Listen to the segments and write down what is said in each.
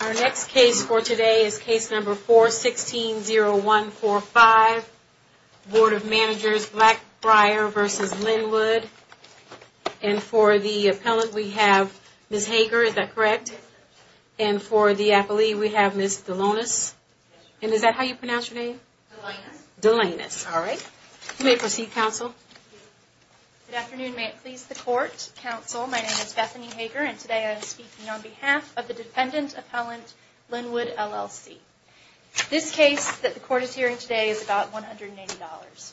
Our next case for today is case number 416-0145, Board of Managers, Blackbriar v. Linwood, and for the appellant we have Ms. Hager, is that correct, and for the appellee we have Ms. Delonis, and is that how you pronounce your name? Delonis. Delonis, all right. You may proceed, counsel. Good afternoon. May it please the court, counsel, my name is Bethany Hager and today I am speaking on behalf of the defendant appellant, Linwood, LLC. This case that the court is hearing today is about $180.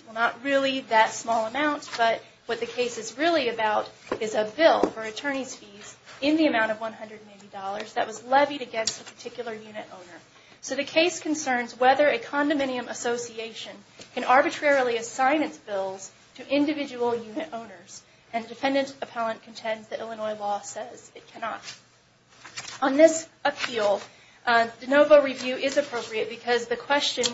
Well, not really that small amount, but what the case is really about is a bill for attorney's fees in the amount of $180 that was levied against a particular unit owner. So the case concerns whether a condominium association can arbitrarily assign its bills to individual unit owners, and defendant appellant contends that Illinois law says it cannot. On this appeal, de novo review is appropriate because the question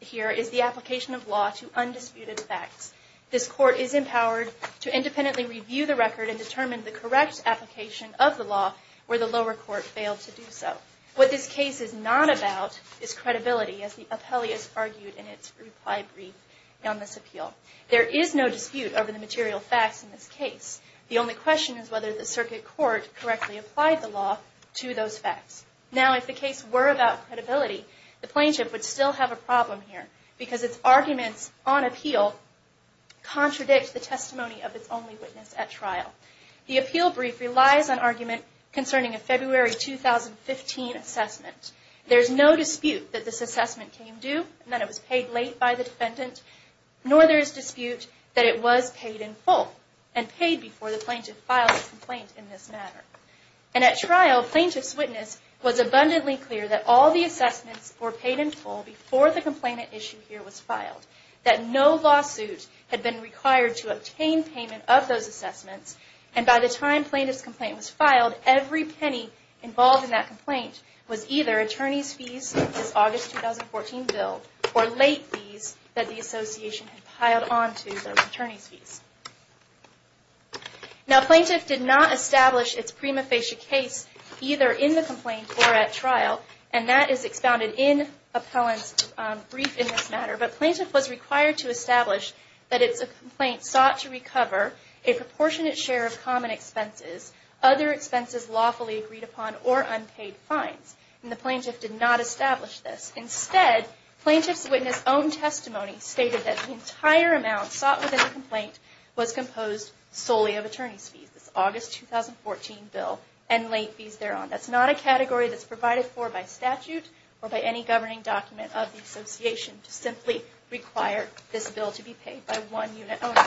here is the application of law to undisputed facts. This court is empowered to independently review the record and determine the correct application of the law where the lower court failed to do so. What this case is not about is credibility, as the appellee has argued in its reply brief on this appeal. There is no dispute over the material facts in this case. The only question is whether the circuit court correctly applied the law to those facts. Now, if the case were about credibility, the plaintiff would still have a problem here because its arguments on appeal contradict the testimony of its only witness at trial. The appeal brief relies on argument concerning a February 2015 assessment. There is no dispute that this assessment came due and that it was paid late by the defendant, nor there is dispute that it was paid in full and paid before the plaintiff filed the complaint in this manner. And at trial, plaintiff's witness was abundantly clear that all the assessments were paid in full before the complainant issue here was filed. That no lawsuit had been required to obtain payment of those assessments. And by the time plaintiff's complaint was filed, every penny involved in that complaint was either attorney's fees, this August 2014 bill, or late fees that the association had piled onto those attorney's fees. Now, plaintiff did not establish its prima facie case either in the complaint or at trial, and that is expounded in appellant's brief in this matter. But plaintiff was required to establish that its complaint sought to recover a proportionate share of common expenses, other expenses lawfully agreed upon, or unpaid fines. And the plaintiff did not establish this. Instead, plaintiff's witness' own testimony stated that the entire amount sought within the complaint was composed solely of attorney's fees, this August 2014 bill, and late fees thereon. That's not a category that's provided for by statute or by any governing document of the association to simply require this bill to be paid by one unit only.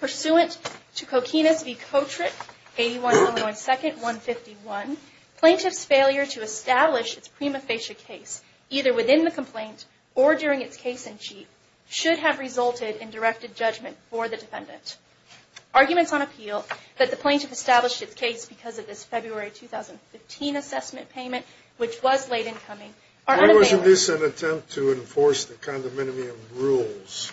Pursuant to Coquinas v. Kotrick, 81 Illinois 2nd, 151, plaintiff's failure to establish its prima facie case either within the complaint or during its case-in-chief should have resulted in directed judgment for the defendant. Arguments on appeal that the plaintiff established its case because of this February 2015 assessment payment, which was late in coming, are unavailable. Why wasn't this an attempt to enforce the condominium rules?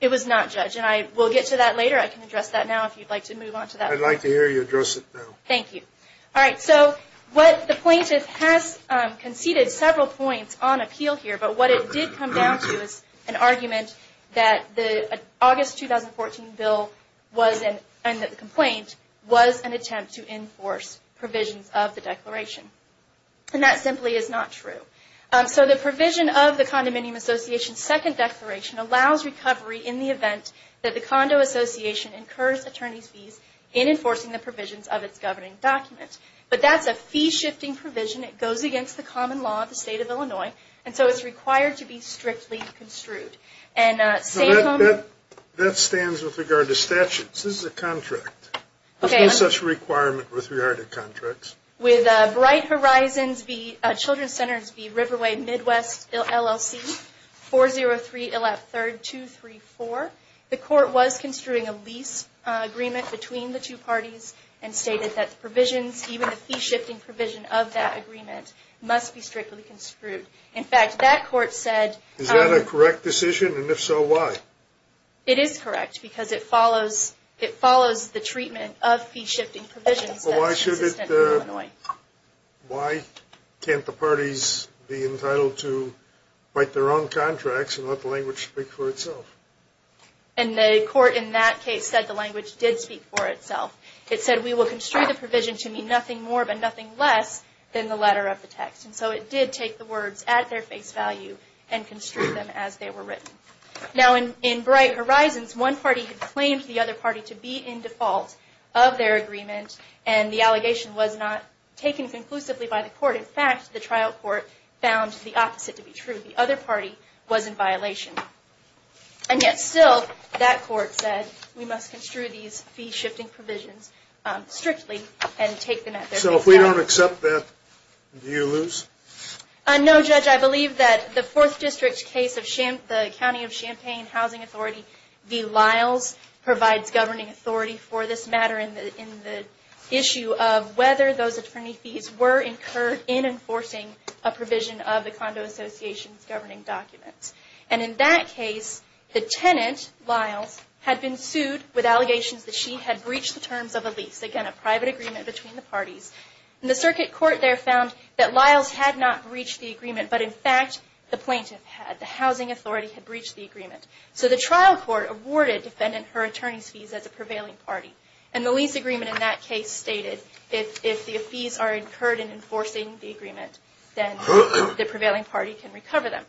It was not, Judge, and I will get to that later. I can address that now if you'd like to move on to that. I'd like to hear you address it now. Thank you. All right, so the plaintiff has conceded several points on appeal here, but what it did come down to is an argument that the August 2014 bill and the complaint was an attempt to enforce provisions of the declaration. And that simply is not true. So the provision of the condominium association's second declaration allows recovery in the event that the condo association incurs attorney's fees in enforcing the provisions of its governing document. But that's a fee-shifting provision. It goes against the common law of the state of Illinois, and so it's required to be strictly construed. That stands with regard to statutes. This is a contract. There's no such requirement with regard to contracts. With Bright Horizons v. Children's Centers v. Riverway Midwest LLC, 403 Illap 3rd 234, the court was construing a lease agreement between the two parties and stated that the provisions, even the fee-shifting provision of that agreement, must be strictly construed. In fact, that court said... Is that a correct decision, and if so, why? It is correct because it follows the treatment of fee-shifting provisions. Why can't the parties be entitled to write their own contracts and let the language speak for itself? And the court in that case said the language did speak for itself. It said, we will construe the provision to mean nothing more but nothing less than the letter of the text. And so it did take the words at their face value and construe them as they were written. Now, in Bright Horizons, one party had claimed the other party to be in default of their agreement, and the allegation was not taken conclusively by the court. In fact, the trial court found the opposite to be true. The other party was in violation. And yet still, that court said, we must construe these fee-shifting provisions strictly and take them at their face value. So if we don't accept that, do you lose? No, Judge. I believe that the Fourth District case of the County of Champaign Housing Authority v. Lyles provides governing authority for this matter in the issue of whether those attorney fees were incurred in enforcing a provision of the Condo Association's governing documents. And in that case, the tenant, Lyles, had been sued with allegations that she had breached the terms of a lease. Again, a private agreement between the parties. And the circuit court there found that Lyles had not breached the agreement, but in fact, the plaintiff had. The housing authority had breached the agreement. So the trial court awarded defendant her attorney's fees as a prevailing party. And the lease agreement in that case stated, if the fees are incurred in enforcing the agreement, then the prevailing party can recover them.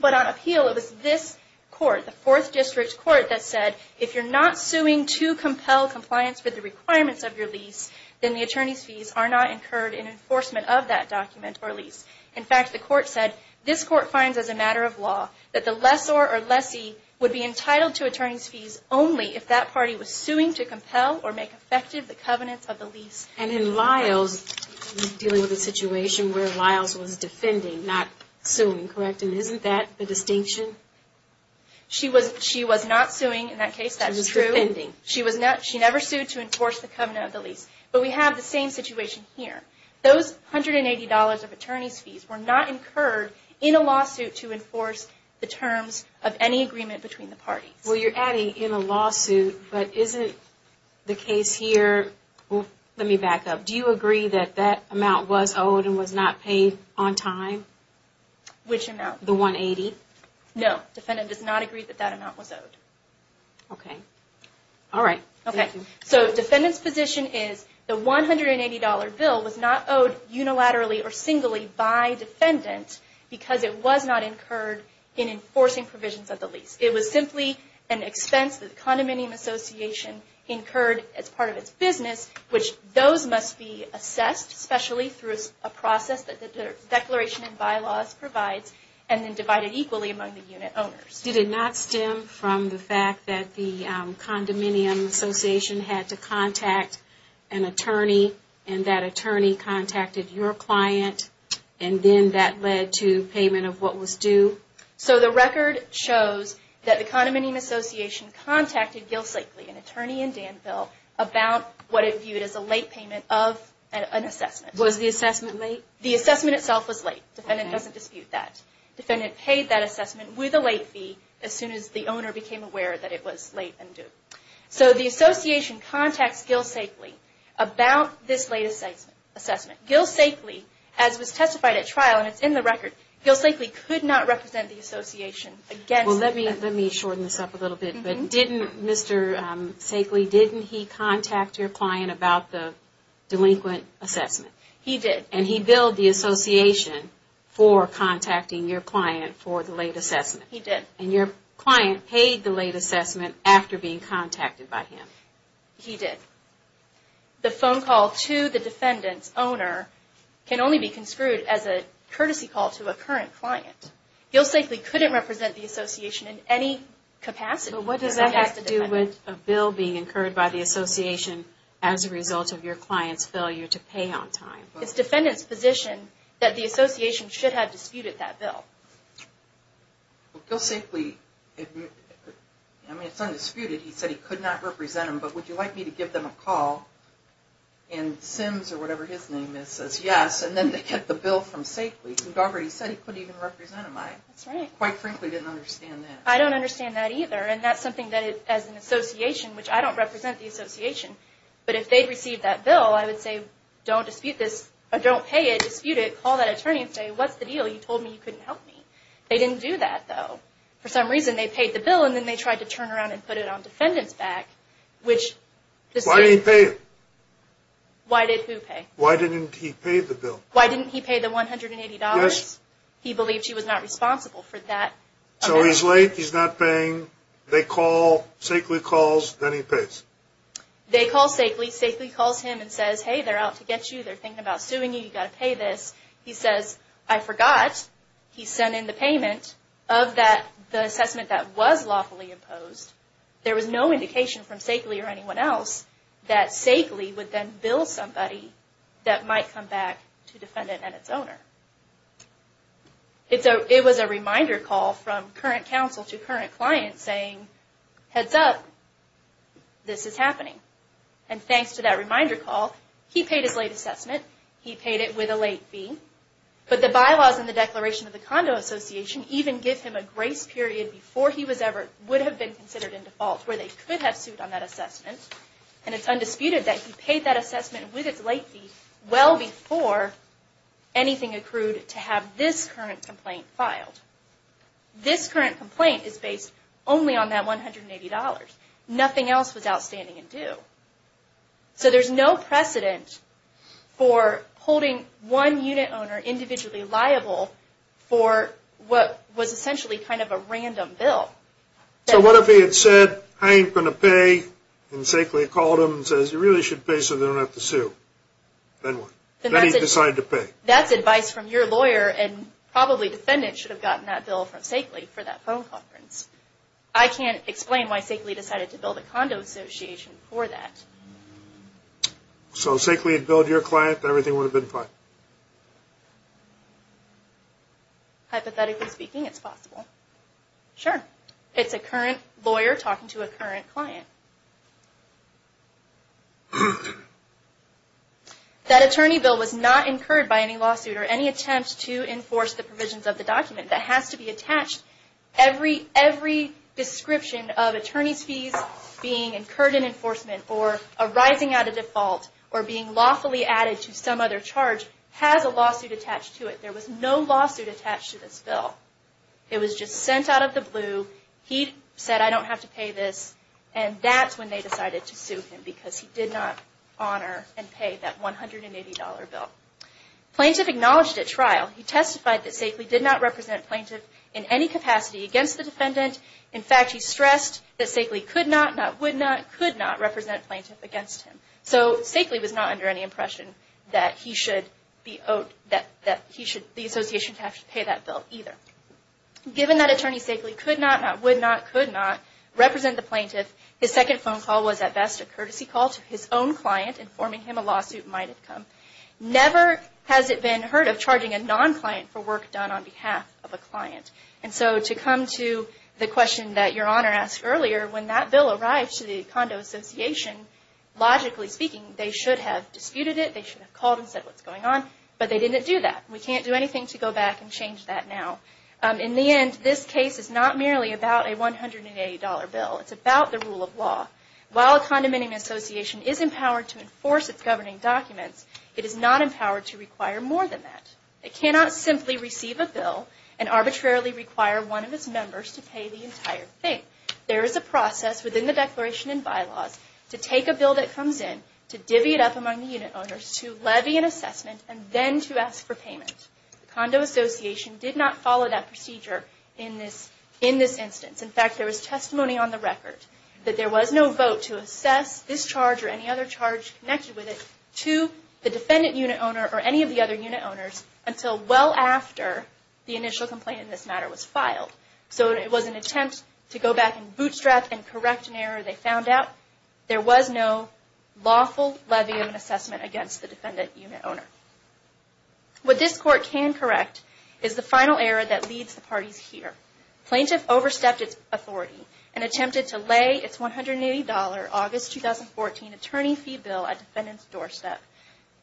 But on appeal, it was this court, the Fourth District court, that said, if you're not suing to compel compliance with the requirements of your lease, then the attorney's fees are not incurred in enforcement of that document or lease. In fact, the court said, this court finds as a matter of law that the lessor or lessee would be entitled to attorney's fees only if that party was suing to compel or make effective the covenants of the lease. And in Lyles, you're dealing with a situation where Lyles was defending, not suing, correct? And isn't that the distinction? She was not suing in that case. That is true. She never sued to enforce the covenant of the lease. But we have the same situation here. Those $180 of attorney's fees were not incurred in a lawsuit to enforce the terms of any agreement between the parties. Well, you're adding in a lawsuit, but isn't the case here, let me back up. Do you agree that that amount was owed and was not paid on time? Which amount? The $180? No. Defendant does not agree that that amount was owed. Okay. All right. Thank you. So defendant's position is the $180 bill was not owed unilaterally or singly by defendant because it was not incurred in enforcing provisions of the lease. It was simply an expense that the Condominium Association incurred as part of its business, which those must be assessed specially through a process that the Declaration and Bylaws provides and then divided equally among the unit owners. Did it not stem from the fact that the Condominium Association had to contact an attorney and that attorney contacted your client and then that led to payment of what was due? So the record shows that the Condominium Association contacted Gil Sakely, an attorney in Danville, about what it viewed as a late payment of an assessment. Was the assessment late? The assessment itself was late. Defendant doesn't dispute that. Defendant paid that assessment with a late fee as soon as the owner became aware that it was late and due. So the association contacts Gil Sakely about this late assessment. Gil Sakely, as was testified at trial, and it's in the record, Gil Sakely could not represent the association. Well, let me shorten this up a little bit. But didn't Mr. Sakely, didn't he contact your client about the delinquent assessment? He did. And he billed the association for contacting your client for the late assessment? He did. And your client paid the late assessment after being contacted by him? He did. The phone call to the defendant's owner can only be construed as a courtesy call to a current client. Gil Sakely couldn't represent the association in any capacity. But what does that have to do with a bill being incurred by the association as a result of your client's failure to pay on time? It's defendant's position that the association should have disputed that bill. Gil Sakely, I mean, it's undisputed, he said he could not represent them. But would you like me to give them a call and Sims or whatever his name is says yes, and then they get the bill from Sakely. You've already said he couldn't even represent them. That's right. I quite frankly didn't understand that. I don't understand that either. And that's something that as an association, which I don't represent the association, but if they'd received that bill, I would say, don't dispute this, or don't pay it, dispute it, call that attorney and say, what's the deal? You told me you couldn't help me. They didn't do that, though. For some reason, they paid the bill, and then they tried to turn around and put it on defendant's back. Why did he pay it? Why did who pay? Why didn't he pay the bill? Why didn't he pay the $180? Yes. He believed he was not responsible for that amount. So he's late, he's not paying, they call, Sakely calls, then he pays. They call Sakely, Sakely calls him and says, hey, they're out to get you, they're thinking about suing you, you've got to pay this. He says, I forgot, he sent in the payment of the assessment that was lawfully imposed. There was no indication from Sakely or anyone else that Sakely would then bill somebody that might come back to defendant and its owner. It was a reminder call from current counsel to current client saying, heads up, this is happening. And thanks to that reminder call, he paid his late assessment. He paid it with a late fee. But the bylaws in the Declaration of the Condo Association even give him a grace period before he would have been considered in default where they could have sued on that assessment. And it's undisputed that he paid that assessment with its late fee well before anything accrued to have this current complaint filed. This current complaint is based only on that $180. Nothing else was outstanding and due. So there's no precedent for holding one unit owner individually liable for what was essentially kind of a random bill. So what if he had said, I ain't going to pay, and Sakely called him and says, you really should pay so they don't have to sue. Then what? Then he decided to pay. That's advice from your lawyer and probably defendant should have gotten that bill from Sakely for that phone conference. I can't explain why Sakely decided to build a condo association for that. So Sakely had billed your client, everything would have been fine? Hypothetically speaking, it's possible. Sure. It's a current lawyer talking to a current client. That attorney bill was not incurred by any lawsuit or any attempt to enforce the provisions of the document. That has to be attached. Every description of attorney's fees being incurred in enforcement or arising out of default or being lawfully added to some other charge has a lawsuit attached to it. There was no lawsuit attached to this bill. It was just sent out of the blue. He said, I don't have to pay this, and that's when they decided to sue him because he did not honor and pay that $180 bill. Plaintiff acknowledged at trial. He testified that Sakely did not represent plaintiff in any capacity against the defendant. In fact, he stressed that Sakely could not, not would not, could not represent plaintiff against him. So Sakely was not under any impression that he should be owed, that he should, the association should have to pay that bill either. Given that attorney Sakely could not, not would not, could not represent the plaintiff, his second phone call was at best a courtesy call to his own client informing him a lawsuit might have come. Never has it been heard of charging a non-client for work done on behalf of a client. And so to come to the question that Your Honor asked earlier, when that bill arrived to the Condo Association, logically speaking, they should have disputed it. They should have called and said what's going on, but they didn't do that. We can't do anything to go back and change that now. In the end, this case is not merely about a $180 bill. It's about the rule of law. While a condominium association is empowered to enforce its governing documents, it is not empowered to require more than that. It cannot simply receive a bill and arbitrarily require one of its members to pay the entire thing. There is a process within the Declaration and Bylaws to take a bill that comes in, to divvy it up among the unit owners, to levy an assessment, and then to ask for payment. The Condo Association did not follow that procedure in this instance. In fact, there is testimony on the record that there was no vote to assess this charge or any other charge connected with it to the defendant unit owner or any of the other unit owners until well after the initial complaint in this matter was filed. So it was an attempt to go back and bootstrap and correct an error they found out. There was no lawful levy of an assessment against the defendant unit owner. What this Court can correct is the final error that leads the parties here. Plaintiff overstepped its authority and attempted to lay its $180 August 2014 attorney fee bill at defendant's doorstep.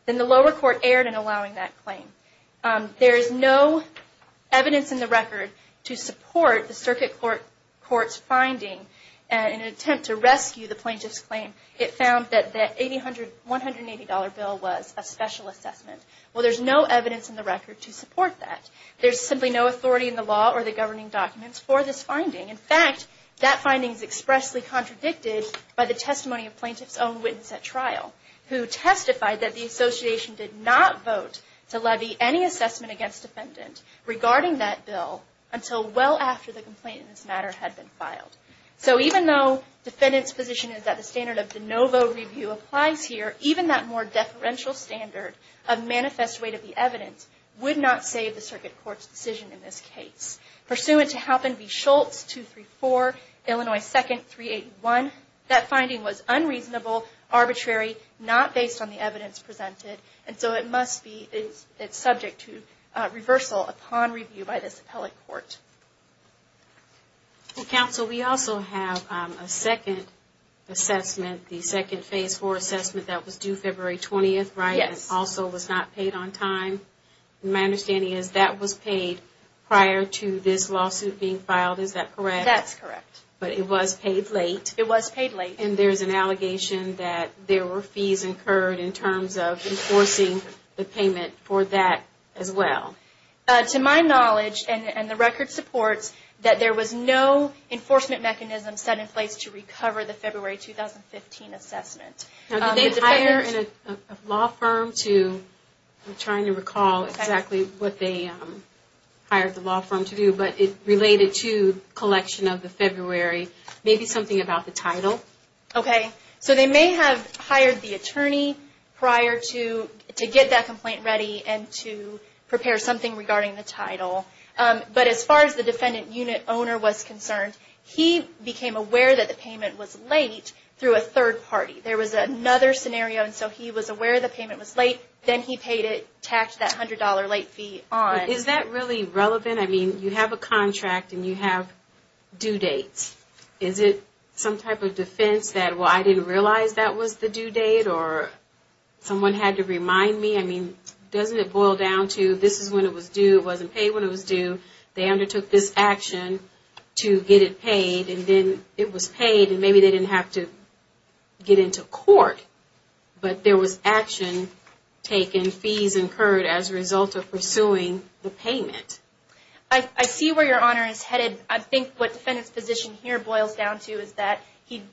Then the lower court erred in allowing that claim. There is no evidence in the record to support the Circuit Court's finding in an attempt to rescue the plaintiff's claim. It found that the $180 bill was a special assessment. Well, there is no evidence in the record to support that. There is simply no authority in the law or the governing documents for this finding. In fact, that finding is expressly contradicted by the testimony of plaintiff's own witness at trial who testified that the Association did not vote to levy any assessment against defendant regarding that bill until well after the complaint in this matter had been filed. So even though defendant's position is that the standard of de novo review applies here, even that more deferential standard of manifest weight of the evidence would not save the Circuit Court's decision in this case. Pursuant to Halpin v. Schultz, 234, Illinois 2nd, 381, that finding was unreasonable, arbitrary, not based on the evidence presented, and so it must be subject to reversal upon review by this appellate court. Counsel, we also have a second assessment, the second Phase 4 assessment that was due February 20th, right? Yes. And also was not paid on time. My understanding is that was paid prior to this lawsuit being filed, is that correct? That's correct. But it was paid late? It was paid late. And there's an allegation that there were fees incurred in terms of enforcing the payment for that as well? To my knowledge, and the record supports, that there was no enforcement mechanism set in place to recover the February 2015 assessment. Now did they hire a law firm to, I'm trying to recall exactly what they hired the law firm to do, but it related to collection of the February, maybe something about the title? Okay. So they may have hired the attorney prior to get that complaint ready and to prepare something regarding the title. But as far as the defendant unit owner was concerned, he became aware that the payment was late through a third party. There was another scenario, and so he was aware the payment was late, then he paid it, taxed that $100 late fee on. Is that really relevant? I mean, you have a contract and you have due dates. Is it some type of defense that, well, I didn't realize that was the due date or someone had to remind me? I mean, doesn't it boil down to this is when it was due, it wasn't paid when it was due, they undertook this action to get it paid, and then it was paid, and maybe they didn't have to get into court. But there was action taken, fees incurred as a result of pursuing the payment. I see where Your Honor is headed. I think what the defendant's position here boils down to is that he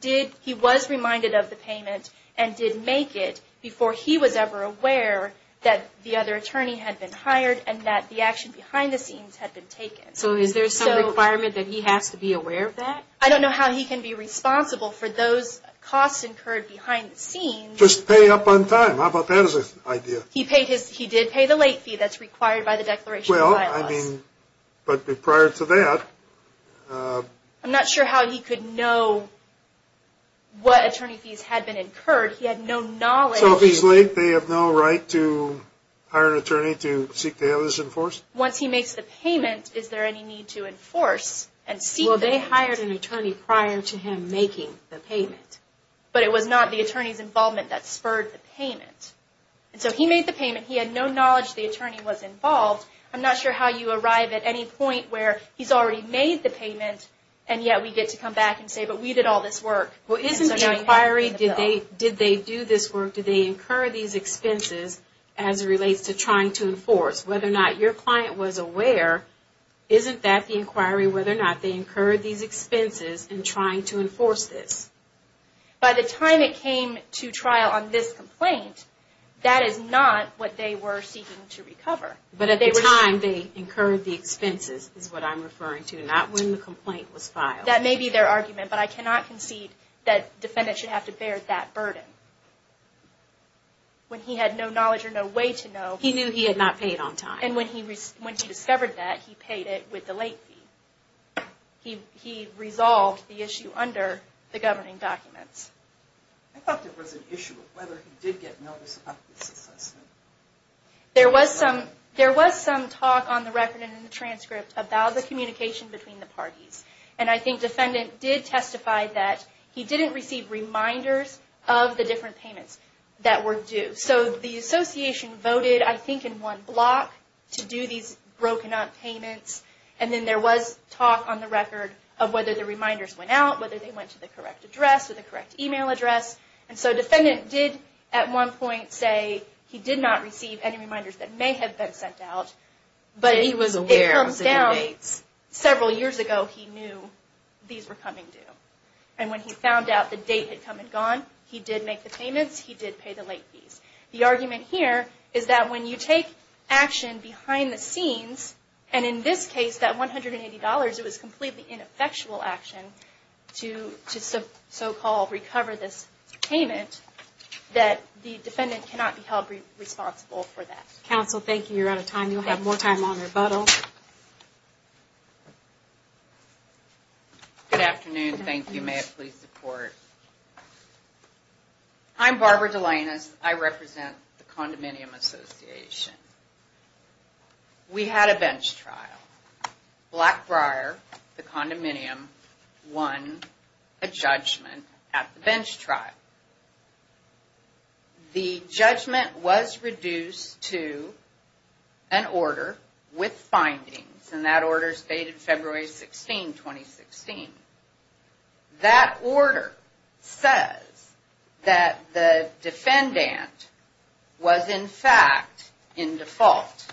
was reminded of the payment and did make it before he was ever aware that the other attorney had been hired and that the action behind the scenes had been taken. So is there some requirement that he has to be aware of that? I don't know how he can be responsible for those costs incurred behind the scenes. Just pay up on time. How about that as an idea? He did pay the late fee that's required by the Declaration of Violence. But prior to that... I'm not sure how he could know what attorney fees had been incurred. He had no knowledge. So if he's late, they have no right to hire an attorney to seek the others in force? Once he makes the payment, is there any need to enforce and seek the... Well, they hired an attorney prior to him making the payment. But it was not the attorney's involvement that spurred the payment. So he made the payment. He had no knowledge the attorney was involved. I'm not sure how you arrive at any point where he's already made the payment, and yet we get to come back and say, but we did all this work. Well, isn't the inquiry, did they do this work? Did they incur these expenses as it relates to trying to enforce? Whether or not your client was aware, isn't that the inquiry, whether or not they incurred these expenses in trying to enforce this? By the time it came to trial on this complaint, that is not what they were seeking to recover. But at the time, they incurred the expenses is what I'm referring to, not when the complaint was filed. That may be their argument, but I cannot concede that defendants should have to bear that burden. When he had no knowledge or no way to know... He knew he had not paid on time. And when he discovered that, he paid it with the late fee. He resolved the issue under the governing documents. I thought there was an issue of whether he did get notice of this assessment. There was some talk on the record and in the transcript about the communication between the parties. And I think defendant did testify that he didn't receive reminders of the different payments that were due. So the association voted, I think, in one block to do these broken up payments. And then there was talk on the record of whether the reminders went out, whether they went to the correct address or the correct email address. And so defendant did at one point say he did not receive any reminders that may have been sent out, but it comes down several years ago he knew these were coming due. And when he found out the date had come and gone, he did make the payments. He did pay the late fees. The argument here is that when you take action behind the scenes, and in this case, that $180, it was completely ineffectual action to so-called recover this payment, that the defendant cannot be held responsible for that. Counsel, thank you. You're out of time. You'll have more time on rebuttal. Good afternoon. Thank you. May I please report? I'm Barbara Delanus. I represent the Condominium Association. We had a bench trial. Blackbriar, the condominium, won a judgment at the bench trial. The judgment was reduced to an order with findings, and that order is dated February 16, 2016. That order says that the defendant was, in fact, in default.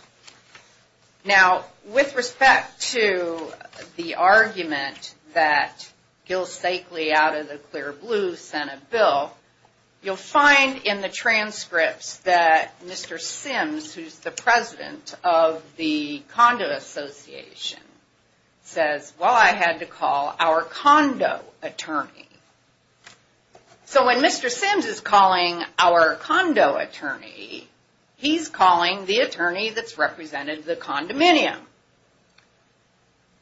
Now, with respect to the argument that Gil Stakely, out of the clear blue, sent a bill, you'll find in the transcripts that Mr. Sims, who's the president of the Condo Association, says, well, I had to call our condo attorney. So when Mr. Sims is calling our condo attorney, he's calling the attorney that's represented the condominium.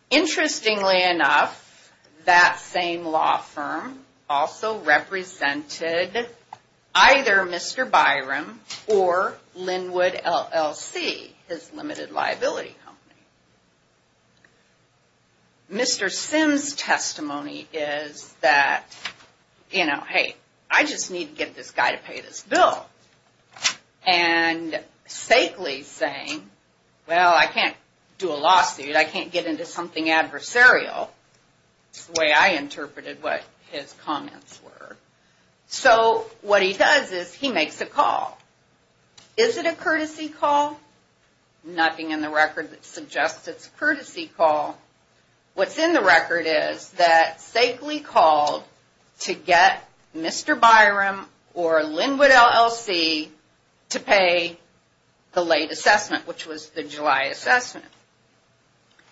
Interestingly enough, that same law firm also represented either Mr. Byram or Linwood LLC, his limited liability company. Mr. Sims' testimony is that, you know, hey, I just need to get this guy to pay this bill. And Stakely's saying, well, I can't do a lawsuit. I can't get into something adversarial. It's the way I interpreted what his comments were. So what he does is he makes a call. Is it a courtesy call? Nothing in the record that suggests it's a courtesy call. What's in the record is that Stakely called to get Mr. Byram or Linwood LLC to pay the late assessment, which was the July assessment.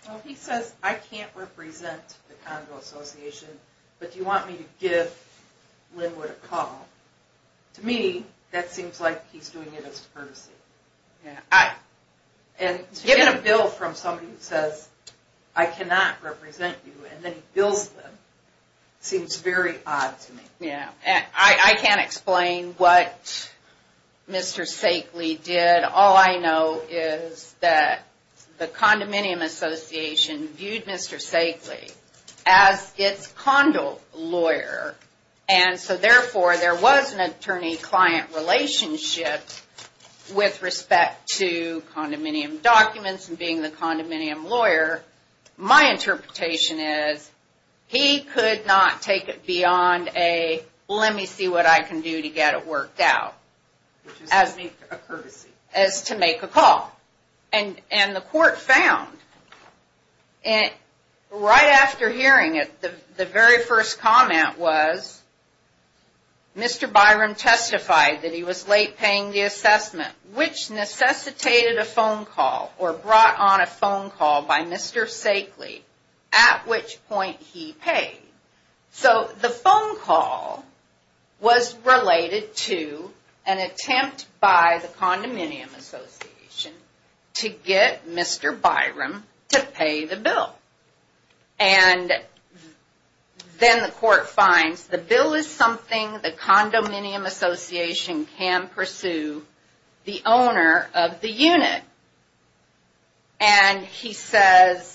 Well, he says, I can't represent the Condo Association, but you want me to give Linwood a call. To me, that seems like he's doing it as courtesy. And to get a bill from somebody who says, I cannot represent you, and then he bills them, seems very odd to me. Yeah. I can't explain what Mr. Stakely did. All I know is that the Condominium Association viewed Mr. Stakely as its condo lawyer. And so, therefore, there was an attorney-client relationship with respect to condominium documents and being the condominium lawyer. My interpretation is he could not take it beyond a, well, let me see what I can do to get it worked out, as to make a call. And the court found, right after hearing it, the very first comment was, Mr. Byram testified that he was late paying the assessment, which necessitated a phone call or brought on a phone call by Mr. Stakely, at which point he paid. So, the phone call was related to an attempt by the Condominium Association to get Mr. Byram to pay the bill. And then the court finds the bill is something the Condominium Association can pursue the owner of the unit. And he says,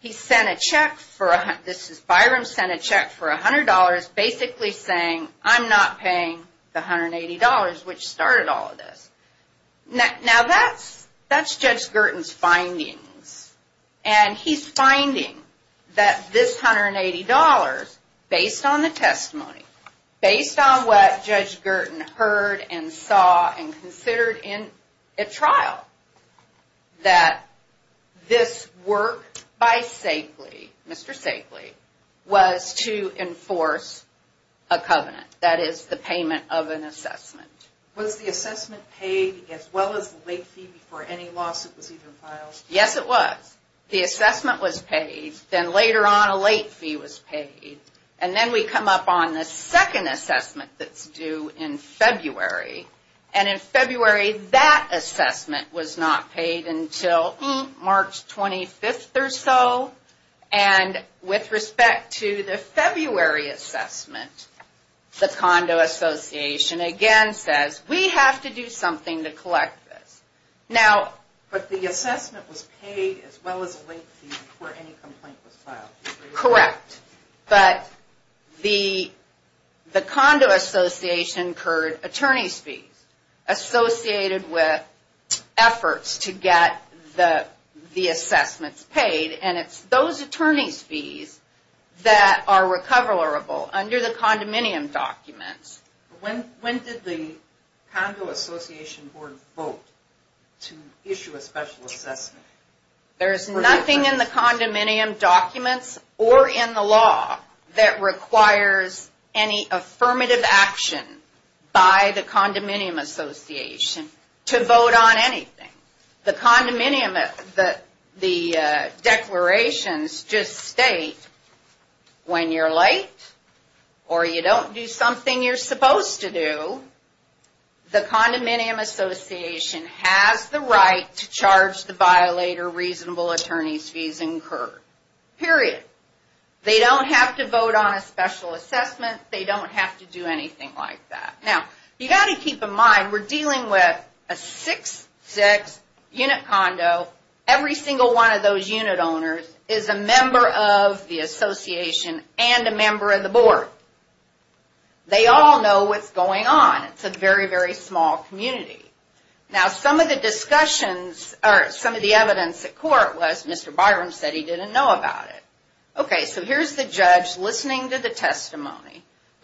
he sent a check for, this is Byram, sent a check for $100 basically saying, I'm not paying the $180, which started all of this. Now, that's Judge Girton's findings, and he's finding that this $180, based on the testimony, based on what Judge Girton heard and saw and considered in a trial, that this work by Stakely, Mr. Stakely, was to enforce a covenant, that is the payment of an assessment. Was the assessment paid as well as the late fee before any lawsuit was even filed? Yes, it was. The assessment was paid, then later on a late fee was paid. And then we come up on the second assessment that's due in February. And in February, that assessment was not paid until March 25th or so. And with respect to the February assessment, the Condo Association again says, we have to do something to collect this. But the assessment was paid as well as a late fee before any complaint was filed. Correct. But the Condo Association incurred attorney's fees associated with efforts to get the assessments paid. And it's those attorney's fees that are recoverable under the condominium documents. When did the Condo Association Board vote to issue a special assessment? There's nothing in the condominium documents or in the law that requires any affirmative action by the Condominium Association to vote on anything. The condominium, the declarations just state when you're late or you don't do something you're supposed to do, the Condominium Association has the right to charge the violator reasonable attorney's fees incurred. Period. They don't have to vote on a special assessment. They don't have to do anything like that. Now, you've got to keep in mind we're dealing with a 6-6 unit condo. Every single one of those unit owners is a member of the association and a member of the board. They all know what's going on. It's a very, very small community. Now, some of the discussions or some of the evidence at court was Mr. Byron said he didn't know about it. The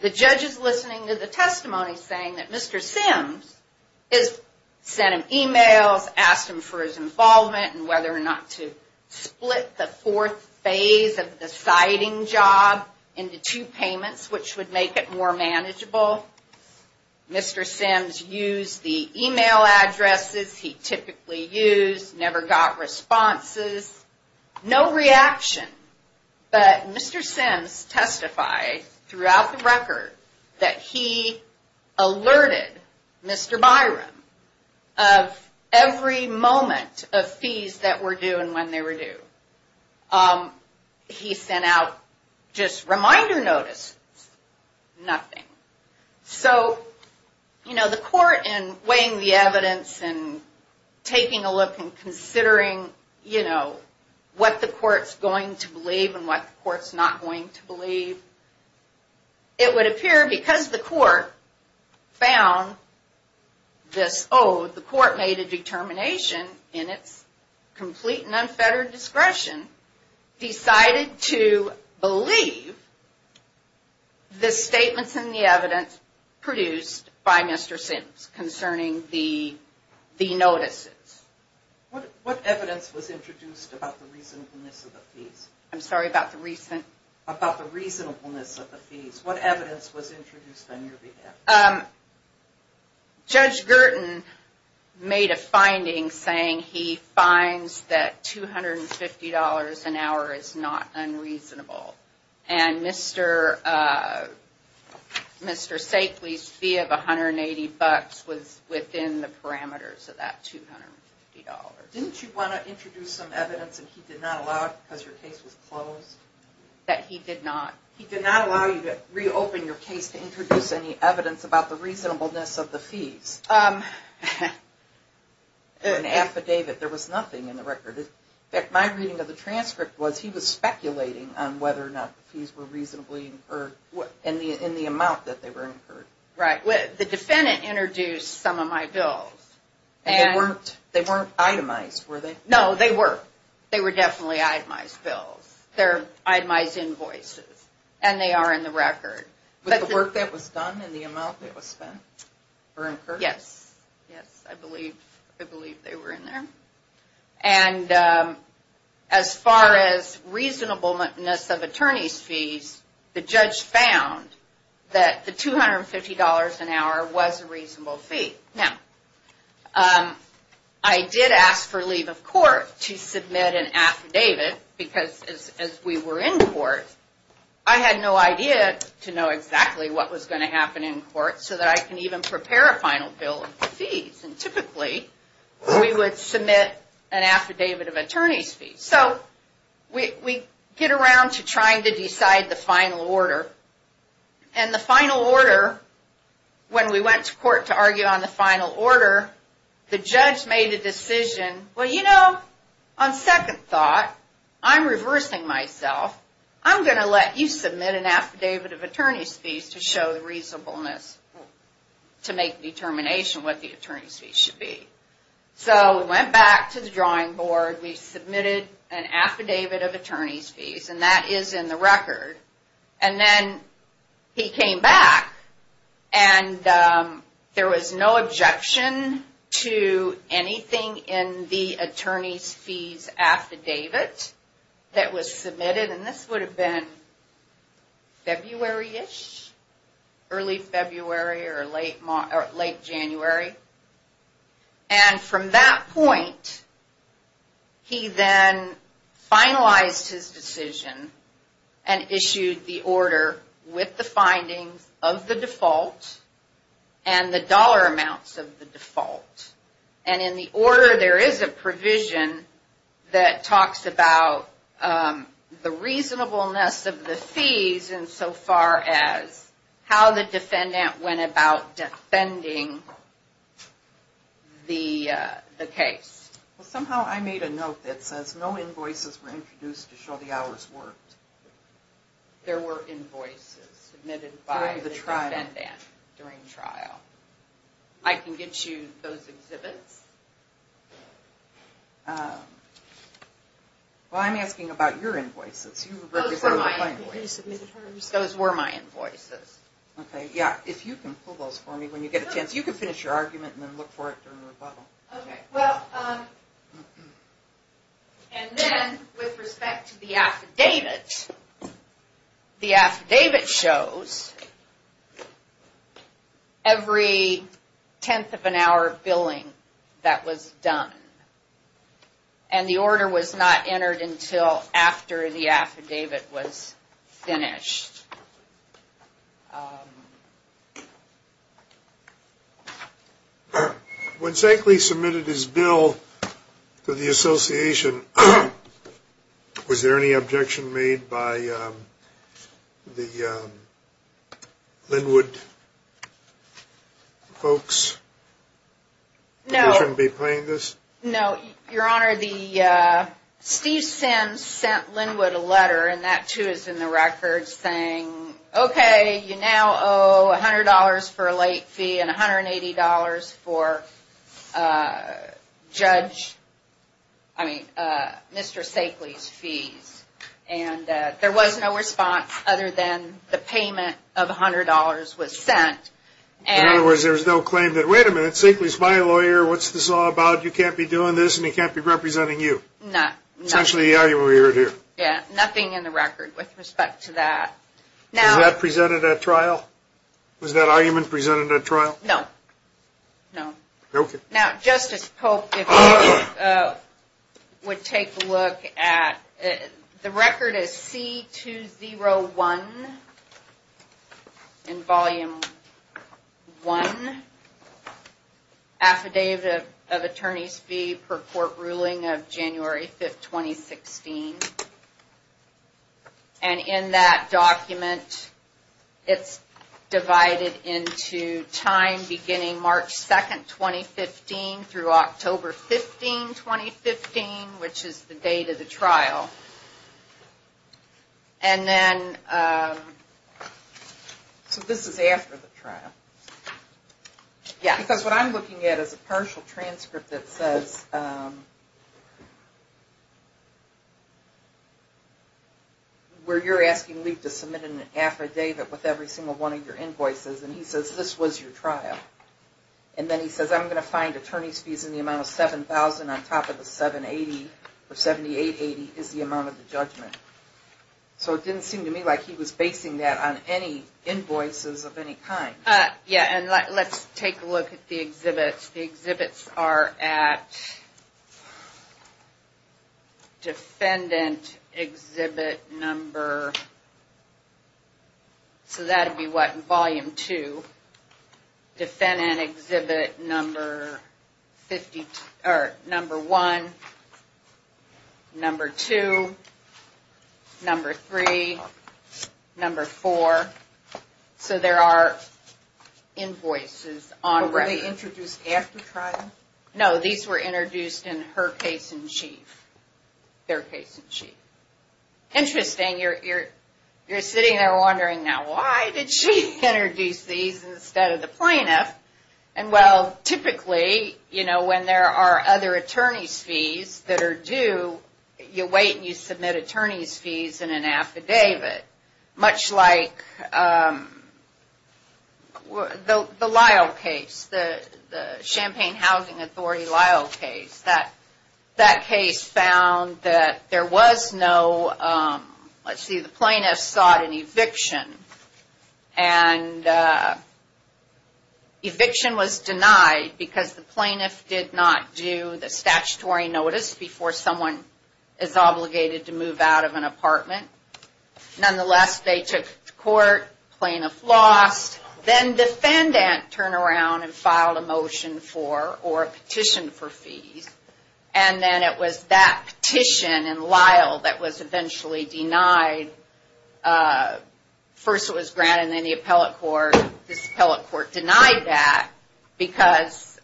judge is listening to the testimony saying that Mr. Sims sent him emails, asked him for his involvement and whether or not to split the fourth phase of the siding job into two payments, which would make it more manageable. Mr. Sims used the email addresses he typically used, never got responses, no reaction. But Mr. Sims testified throughout the record that he alerted Mr. Byron of every moment of fees that were due and when they were due. He sent out just reminder notices, nothing. So, you know, the court in weighing the evidence and taking a look and considering, you know, what the court's going to believe and what the court's not going to believe, it would appear because the court found this, oh, the court made a determination in its complete and unfettered discretion, decided to believe the statements and the evidence produced by Mr. Sims concerning the notices. What evidence was introduced about the reasonableness of the fees? I'm sorry, about the recent? About the reasonableness of the fees. What evidence was introduced on your behalf? Judge Gerton made a finding saying he finds that $250 an hour is not unreasonable. And Mr. Sakely's fee of $180 was within the parameters of that $250. Didn't you want to introduce some evidence and he did not allow it because your case was closed? That he did not. He did not allow you to reopen your case to introduce any evidence about the reasonableness of the fees. An affidavit, there was nothing in the record. In fact, my reading of the transcript was he was speculating on whether or not the fees were reasonably incurred in the amount that they were incurred. Right. The defendant introduced some of my bills. They weren't itemized, were they? No, they were. They were definitely itemized bills. They're itemized invoices and they are in the record. But the work that was done and the amount that was spent were incurred? Yes. Yes, I believe they were in there. And as far as reasonableness of attorney's fees, the judge found that the $250 an hour was a reasonable fee. Now, I did ask for leave of court to submit an affidavit because as we were in court, I had no idea to know exactly what was going to happen in court so that I can even prepare a final bill of fees. And typically, we would submit an affidavit of attorney's fees. So, we get around to trying to decide the final order. And the final order, when we went to court to argue on the final order, the judge made a decision. Well, you know, on second thought, I'm reversing myself. I'm going to let you submit an affidavit of attorney's fees to show reasonableness to make determination what the attorney's fees should be. So, we went back to the drawing board. We submitted an affidavit of attorney's fees and that is in the record. And then, he came back and there was no objection to anything in the attorney's fees affidavit that was submitted. And this would have been February-ish, early February or late January. And from that point, he then finalized his decision and issued the order with the findings of the default and the dollar amounts of the default. And in the order, there is a provision that talks about the reasonableness of the fees and so far as how the defendant went about defending the case. Well, somehow I made a note that says no invoices were introduced to show the hours worked. There were invoices submitted by the defendant during trial. I can get you those exhibits. Well, I'm asking about your invoices. Those were my invoices. Those were my invoices. Okay, yeah, if you can pull those for me when you get a chance. You can finish your argument and then look for it during rebuttal. Okay, well, and then with respect to the affidavit, the affidavit shows every tenth of an hour of billing that was done. And the order was not entered until after the affidavit was finished. When Zankley submitted his bill to the association, was there any objection made by the Linwood folks? No. They shouldn't be paying this? No, Your Honor, Steve Sims sent Linwood a letter and that too is in the record saying, okay, you now owe $100 for a late fee and $180 for Judge, I mean, Mr. Zankley's fees. And there was no response other than the payment of $100 was sent. In other words, there was no claim that, wait a minute, Zankley's my lawyer. What's this all about? You can't be doing this and he can't be representing you. No. Essentially the argument we heard here. Yeah, nothing in the record with respect to that. Was that presented at trial? Was that argument presented at trial? No, no. Okay. Now, Justice Pope, if you would take a look at, the record is C-201 in Volume 1, Affidavit of Attorney's Fee per Court Ruling of January 5, 2016. And in that document, it's divided into time beginning March 2, 2015 through October 15, 2015, which is the date of the trial. And then... So this is after the trial? Yeah. Because what I'm looking at is a partial transcript that says, where you're asking Lief to submit an affidavit with every single one of your invoices. And he says, this was your trial. And then he says, I'm going to find attorney's fees in the amount of $7,000 on top of the $780 or $7,880 is the amount of the judgment. So it didn't seem to me like he was basing that on any invoices of any kind. Yeah. And let's take a look at the exhibits. The exhibits are at Defendant Exhibit Number... So that would be what? Volume 2. Defendant Exhibit Number 1, Number 2, Number 3, Number 4. So there are invoices on record. Were they introduced after trial? No. These were introduced in her case in chief. Their case in chief. Interesting. You're sitting there wondering now, why did she introduce these instead of the plaintiff? And well, typically, you know, when there are other attorney's fees that are due, you wait and you submit attorney's fees in an affidavit. Much like the Lyle case, the Champaign Housing Authority Lyle case. That case found that there was no... Let's see, the plaintiff sought an eviction. And eviction was denied because the plaintiff did not do the statutory notice before someone is obligated to move out of an apartment. Nonetheless, they took to court. Plaintiff lost. Then defendant turned around and filed a motion for or a petition for fees. And then it was that petition in Lyle that was eventually denied. First it was granted, then the appellate court. This appellate court denied that because,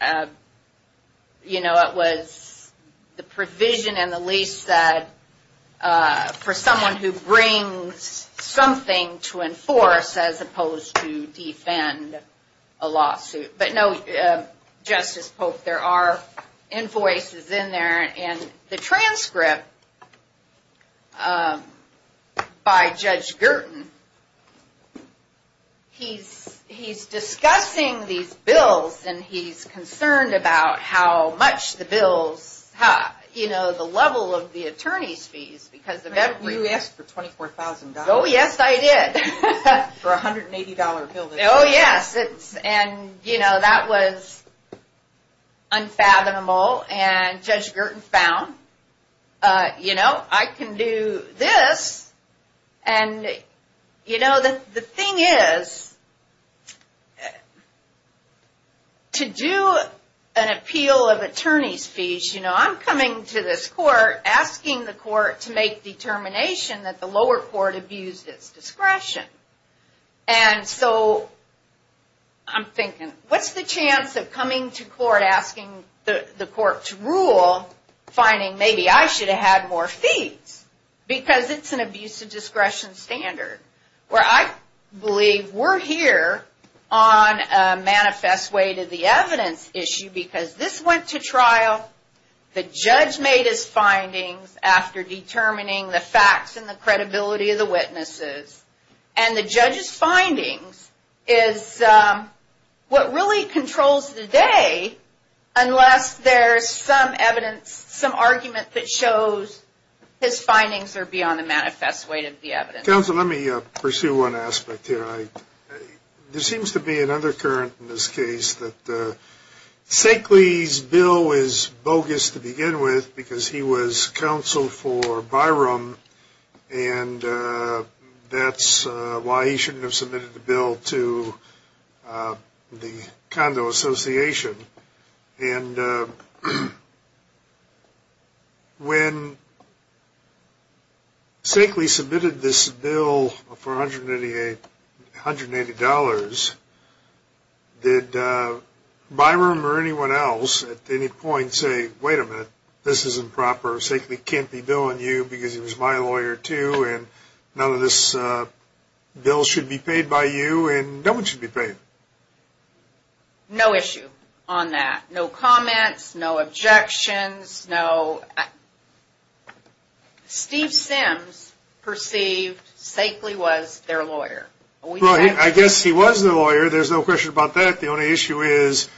you know, it was the provision in the lease that for someone who brings something to enforce as opposed to defend a lawsuit. But no, Justice Pope, there are invoices in there. And the transcript by Judge Girton, he's discussing these bills and he's concerned about how much the bills, you know, the level of the attorney's fees. You asked for $24,000. Oh yes, I did. For a $180 bill. Oh yes, and you know, that was unfathomable. And Judge Girton found, you know, I can do this. And, you know, the thing is, to do an appeal of attorney's fees, you know, I'm coming to this court asking the court to make determination that the lower court abused its discretion. And so I'm thinking, what's the chance of coming to court asking the court to rule, finding maybe I should have had more fees? Because it's an abuse of discretion standard. Where I believe we're here on a manifest way to the evidence issue because this went to trial. The judge made his findings after determining the facts and the credibility of the witnesses. And the judge's findings is what really controls the day unless there's some evidence, some argument that shows his findings are beyond the manifest way to the evidence. Counsel, let me pursue one aspect here. There seems to be another current in this case that Sakely's bill is bogus to begin with because he was counsel for Byram and that's why he shouldn't have submitted the bill to the Condo Association. And when Sakely submitted this bill for $180, did Byram or anyone else at any point say, wait a minute, this is improper, Sakely can't be billing you because he was my lawyer too and none of this bill should be paid by you and no one should be paid? No issue on that. No comments, no objections, no. Steve Sims perceived Sakely was their lawyer. I guess he was their lawyer. There's no question about that. The only issue is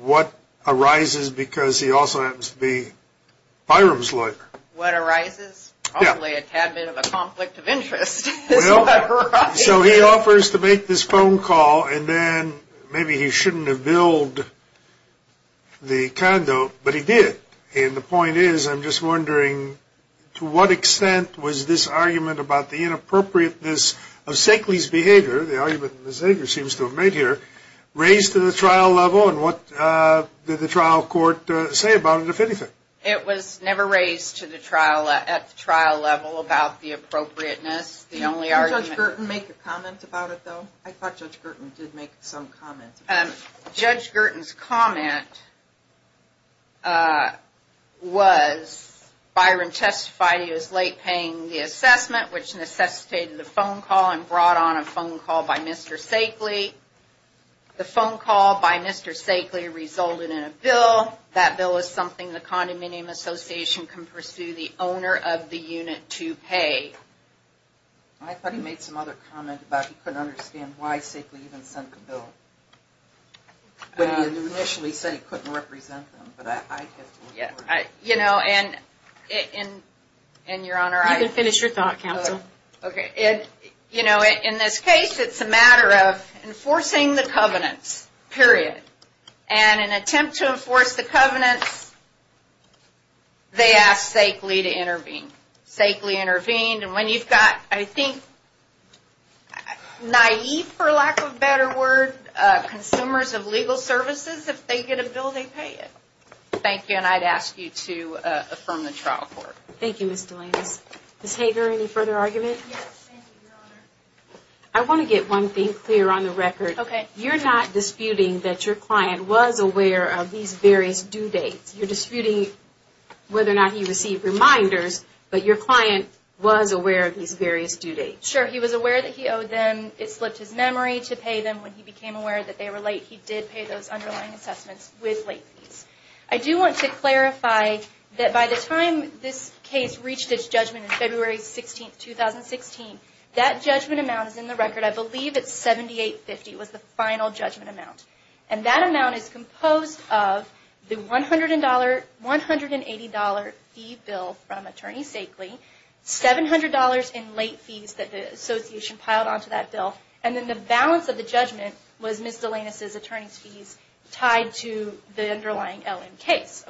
what arises because he also happens to be Byram's lawyer. What arises? Probably a tad bit of a conflict of interest. So he offers to make this phone call and then maybe he shouldn't have billed the condo, but he did. And the point is I'm just wondering to what extent was this argument about the inappropriateness of Sakely's behavior, the argument that Ms. Ager seems to have made here, raised to the trial level and what did the trial court say about it, if anything? It was never raised at the trial level about the appropriateness. Did Judge Gerton make a comment about it, though? I thought Judge Gerton did make some comment. Judge Gerton's comment was Byram testified he was late paying the assessment, which necessitated a phone call and brought on a phone call by Mr. Sakely. The phone call by Mr. Sakely resulted in a bill. That bill is something the Condominium Association can pursue the owner of the unit to pay. I thought he made some other comment about he couldn't understand why Sakely even sent the bill. He initially said he couldn't represent them, but I had to look for it. You know, in this case, it's a matter of enforcing the covenants, period. And in an attempt to enforce the covenants, they asked Sakely to intervene. Sakely intervened, and when you've got, I think, naïve for lack of a better word, consumers of legal services, if they get a bill, they pay it. Thank you, and I'd ask you to affirm the trial court. Thank you, Ms. Delaney. Ms. Hager, any further argument? Yes, thank you, Your Honor. I want to get one thing clear on the record. Okay. You're not disputing that your client was aware of these various due dates. You're disputing whether or not he received reminders, but your client was aware of these various due dates. Sure, he was aware that he owed them. It slipped his memory to pay them when he became aware that they were late. He did pay those underlying assessments with late fees. I do want to clarify that by the time this case reached its judgment on February 16, 2016, that judgment amount is in the record. I believe it's $78.50 was the final judgment amount. And that amount is composed of the $180 fee bill from Attorney Sakely, $700 in late fees that the association piled onto that bill, and then the balance of the judgment was Ms. Delaney's attorney's fees tied to the underlying LN case.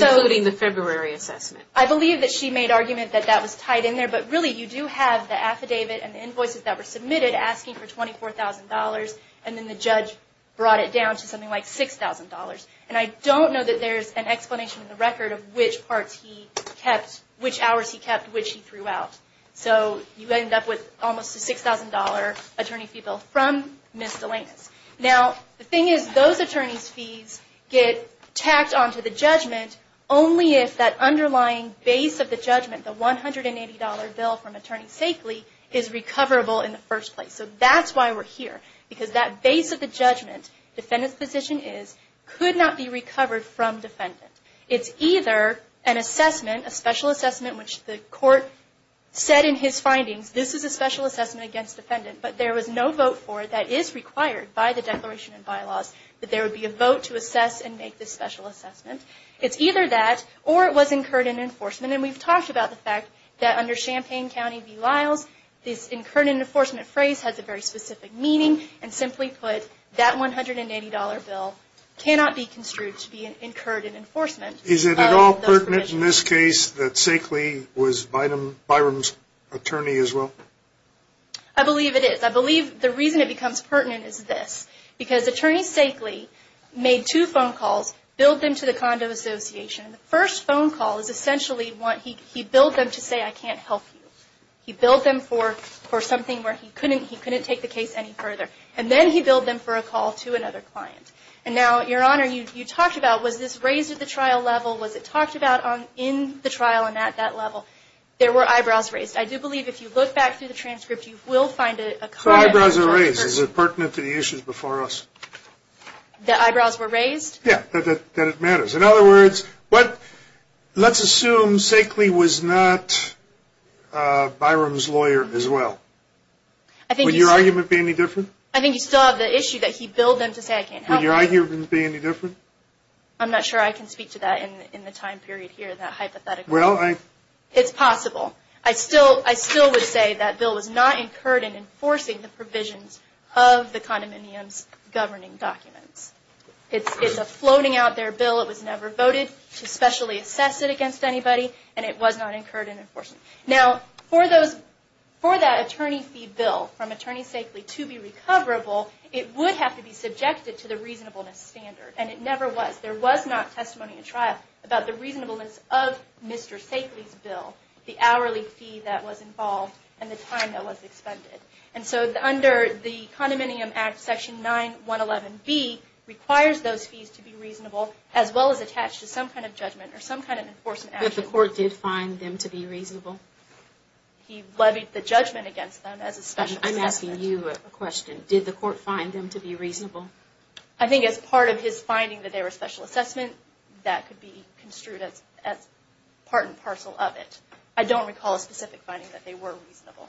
Including the February assessment. I believe that she made argument that that was tied in there, but really you do have the affidavit and the invoices that were submitted asking for $24,000, and then the judge brought it down to something like $6,000. And I don't know that there's an explanation in the record of which parts he kept, which hours he kept, which he threw out. So you end up with almost a $6,000 attorney fee bill from Ms. Delaney. Now, the thing is, those attorney's fees get tacked onto the judgment only if that underlying base of the judgment, the $180 bill from Attorney Sakely, is recoverable in the first place. So that's why we're here. Because that base of the judgment, defendant's position is, could not be recovered from defendant. It's either an assessment, a special assessment, which the court said in his findings, this is a special assessment against defendant, but there was no vote for it that is required by the Declaration and Bylaws, that there would be a vote to assess and make this special assessment. It's either that, or it was incurred in enforcement. And we've talked about the fact that under Champaign County v. Lyles, this incurred in enforcement phrase has a very specific meaning. And simply put, that $180 bill cannot be construed to be incurred in enforcement. Is it at all pertinent in this case that Sakely was Byram's attorney as well? I believe it is. I believe the reason it becomes pertinent is this. Because Attorney Sakely made two phone calls, billed them to the Condo Association. The first phone call is essentially, he billed them to say, I can't help you. He billed them for something where he couldn't take the case any further. And then he billed them for a call to another client. And now, Your Honor, you talked about, was this raised at the trial level? Was it talked about in the trial and at that level? There were eyebrows raised. I do believe if you look back through the transcript, you will find a comment. So eyebrows are raised. Is it pertinent to the issues before us? The eyebrows were raised? Yeah, that it matters. In other words, let's assume Sakely was not Byram's lawyer as well. Would your argument be any different? I think you still have the issue that he billed them to say, I can't help you. Would your argument be any different? I'm not sure I can speak to that in the time period here, that hypothetical. Well, I. It's possible. I still would say that bill was not incurred in enforcing the provisions of the condominium's governing documents. It's a floating out there bill. It was never voted to specially assess it against anybody. And it was not incurred in enforcement. Now, for that attorney fee bill from Attorney Sakely to be recoverable, it would have to be subjected to the reasonableness standard. And it never was. There was not testimony in trial about the reasonableness of Mr. Sakely's bill, the hourly fee that was involved, and the time that was expended. And so under the Condominium Act, Section 9111B requires those fees to be reasonable, as well as attached to some kind of judgment or some kind of enforcement action. But the court did find them to be reasonable? He levied the judgment against them as a special assessment. I'm asking you a question. Did the court find them to be reasonable? I think as part of his finding that they were special assessment, that could be construed as part and parcel of it. I don't recall a specific finding that they were reasonable.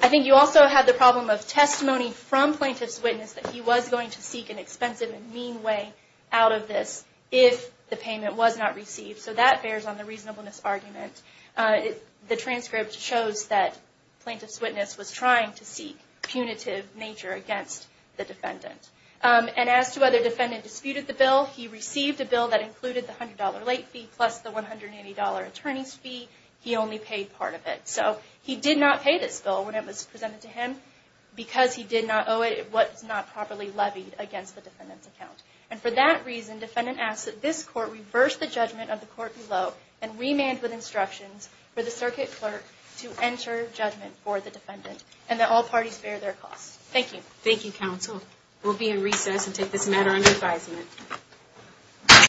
I think you also have the problem of testimony from plaintiff's witness that he was going to seek an expensive and mean way out of this if the payment was not received. So that bears on the reasonableness argument. The transcript shows that plaintiff's witness was trying to seek punitive nature against the defendant. And as to whether the defendant disputed the bill, he received a bill that included the $100 late fee plus the $180 attorney's fee. He only paid part of it. So he did not pay this bill when it was presented to him because he did not owe it what was not properly levied against the defendant's account. And for that reason, defendant asks that this court reverse the judgment of the court below and remand with instructions for the circuit clerk to enter judgment for the defendant and that all parties bear their costs. Thank you. Thank you, counsel. We'll be in recess and take this matter under advisement.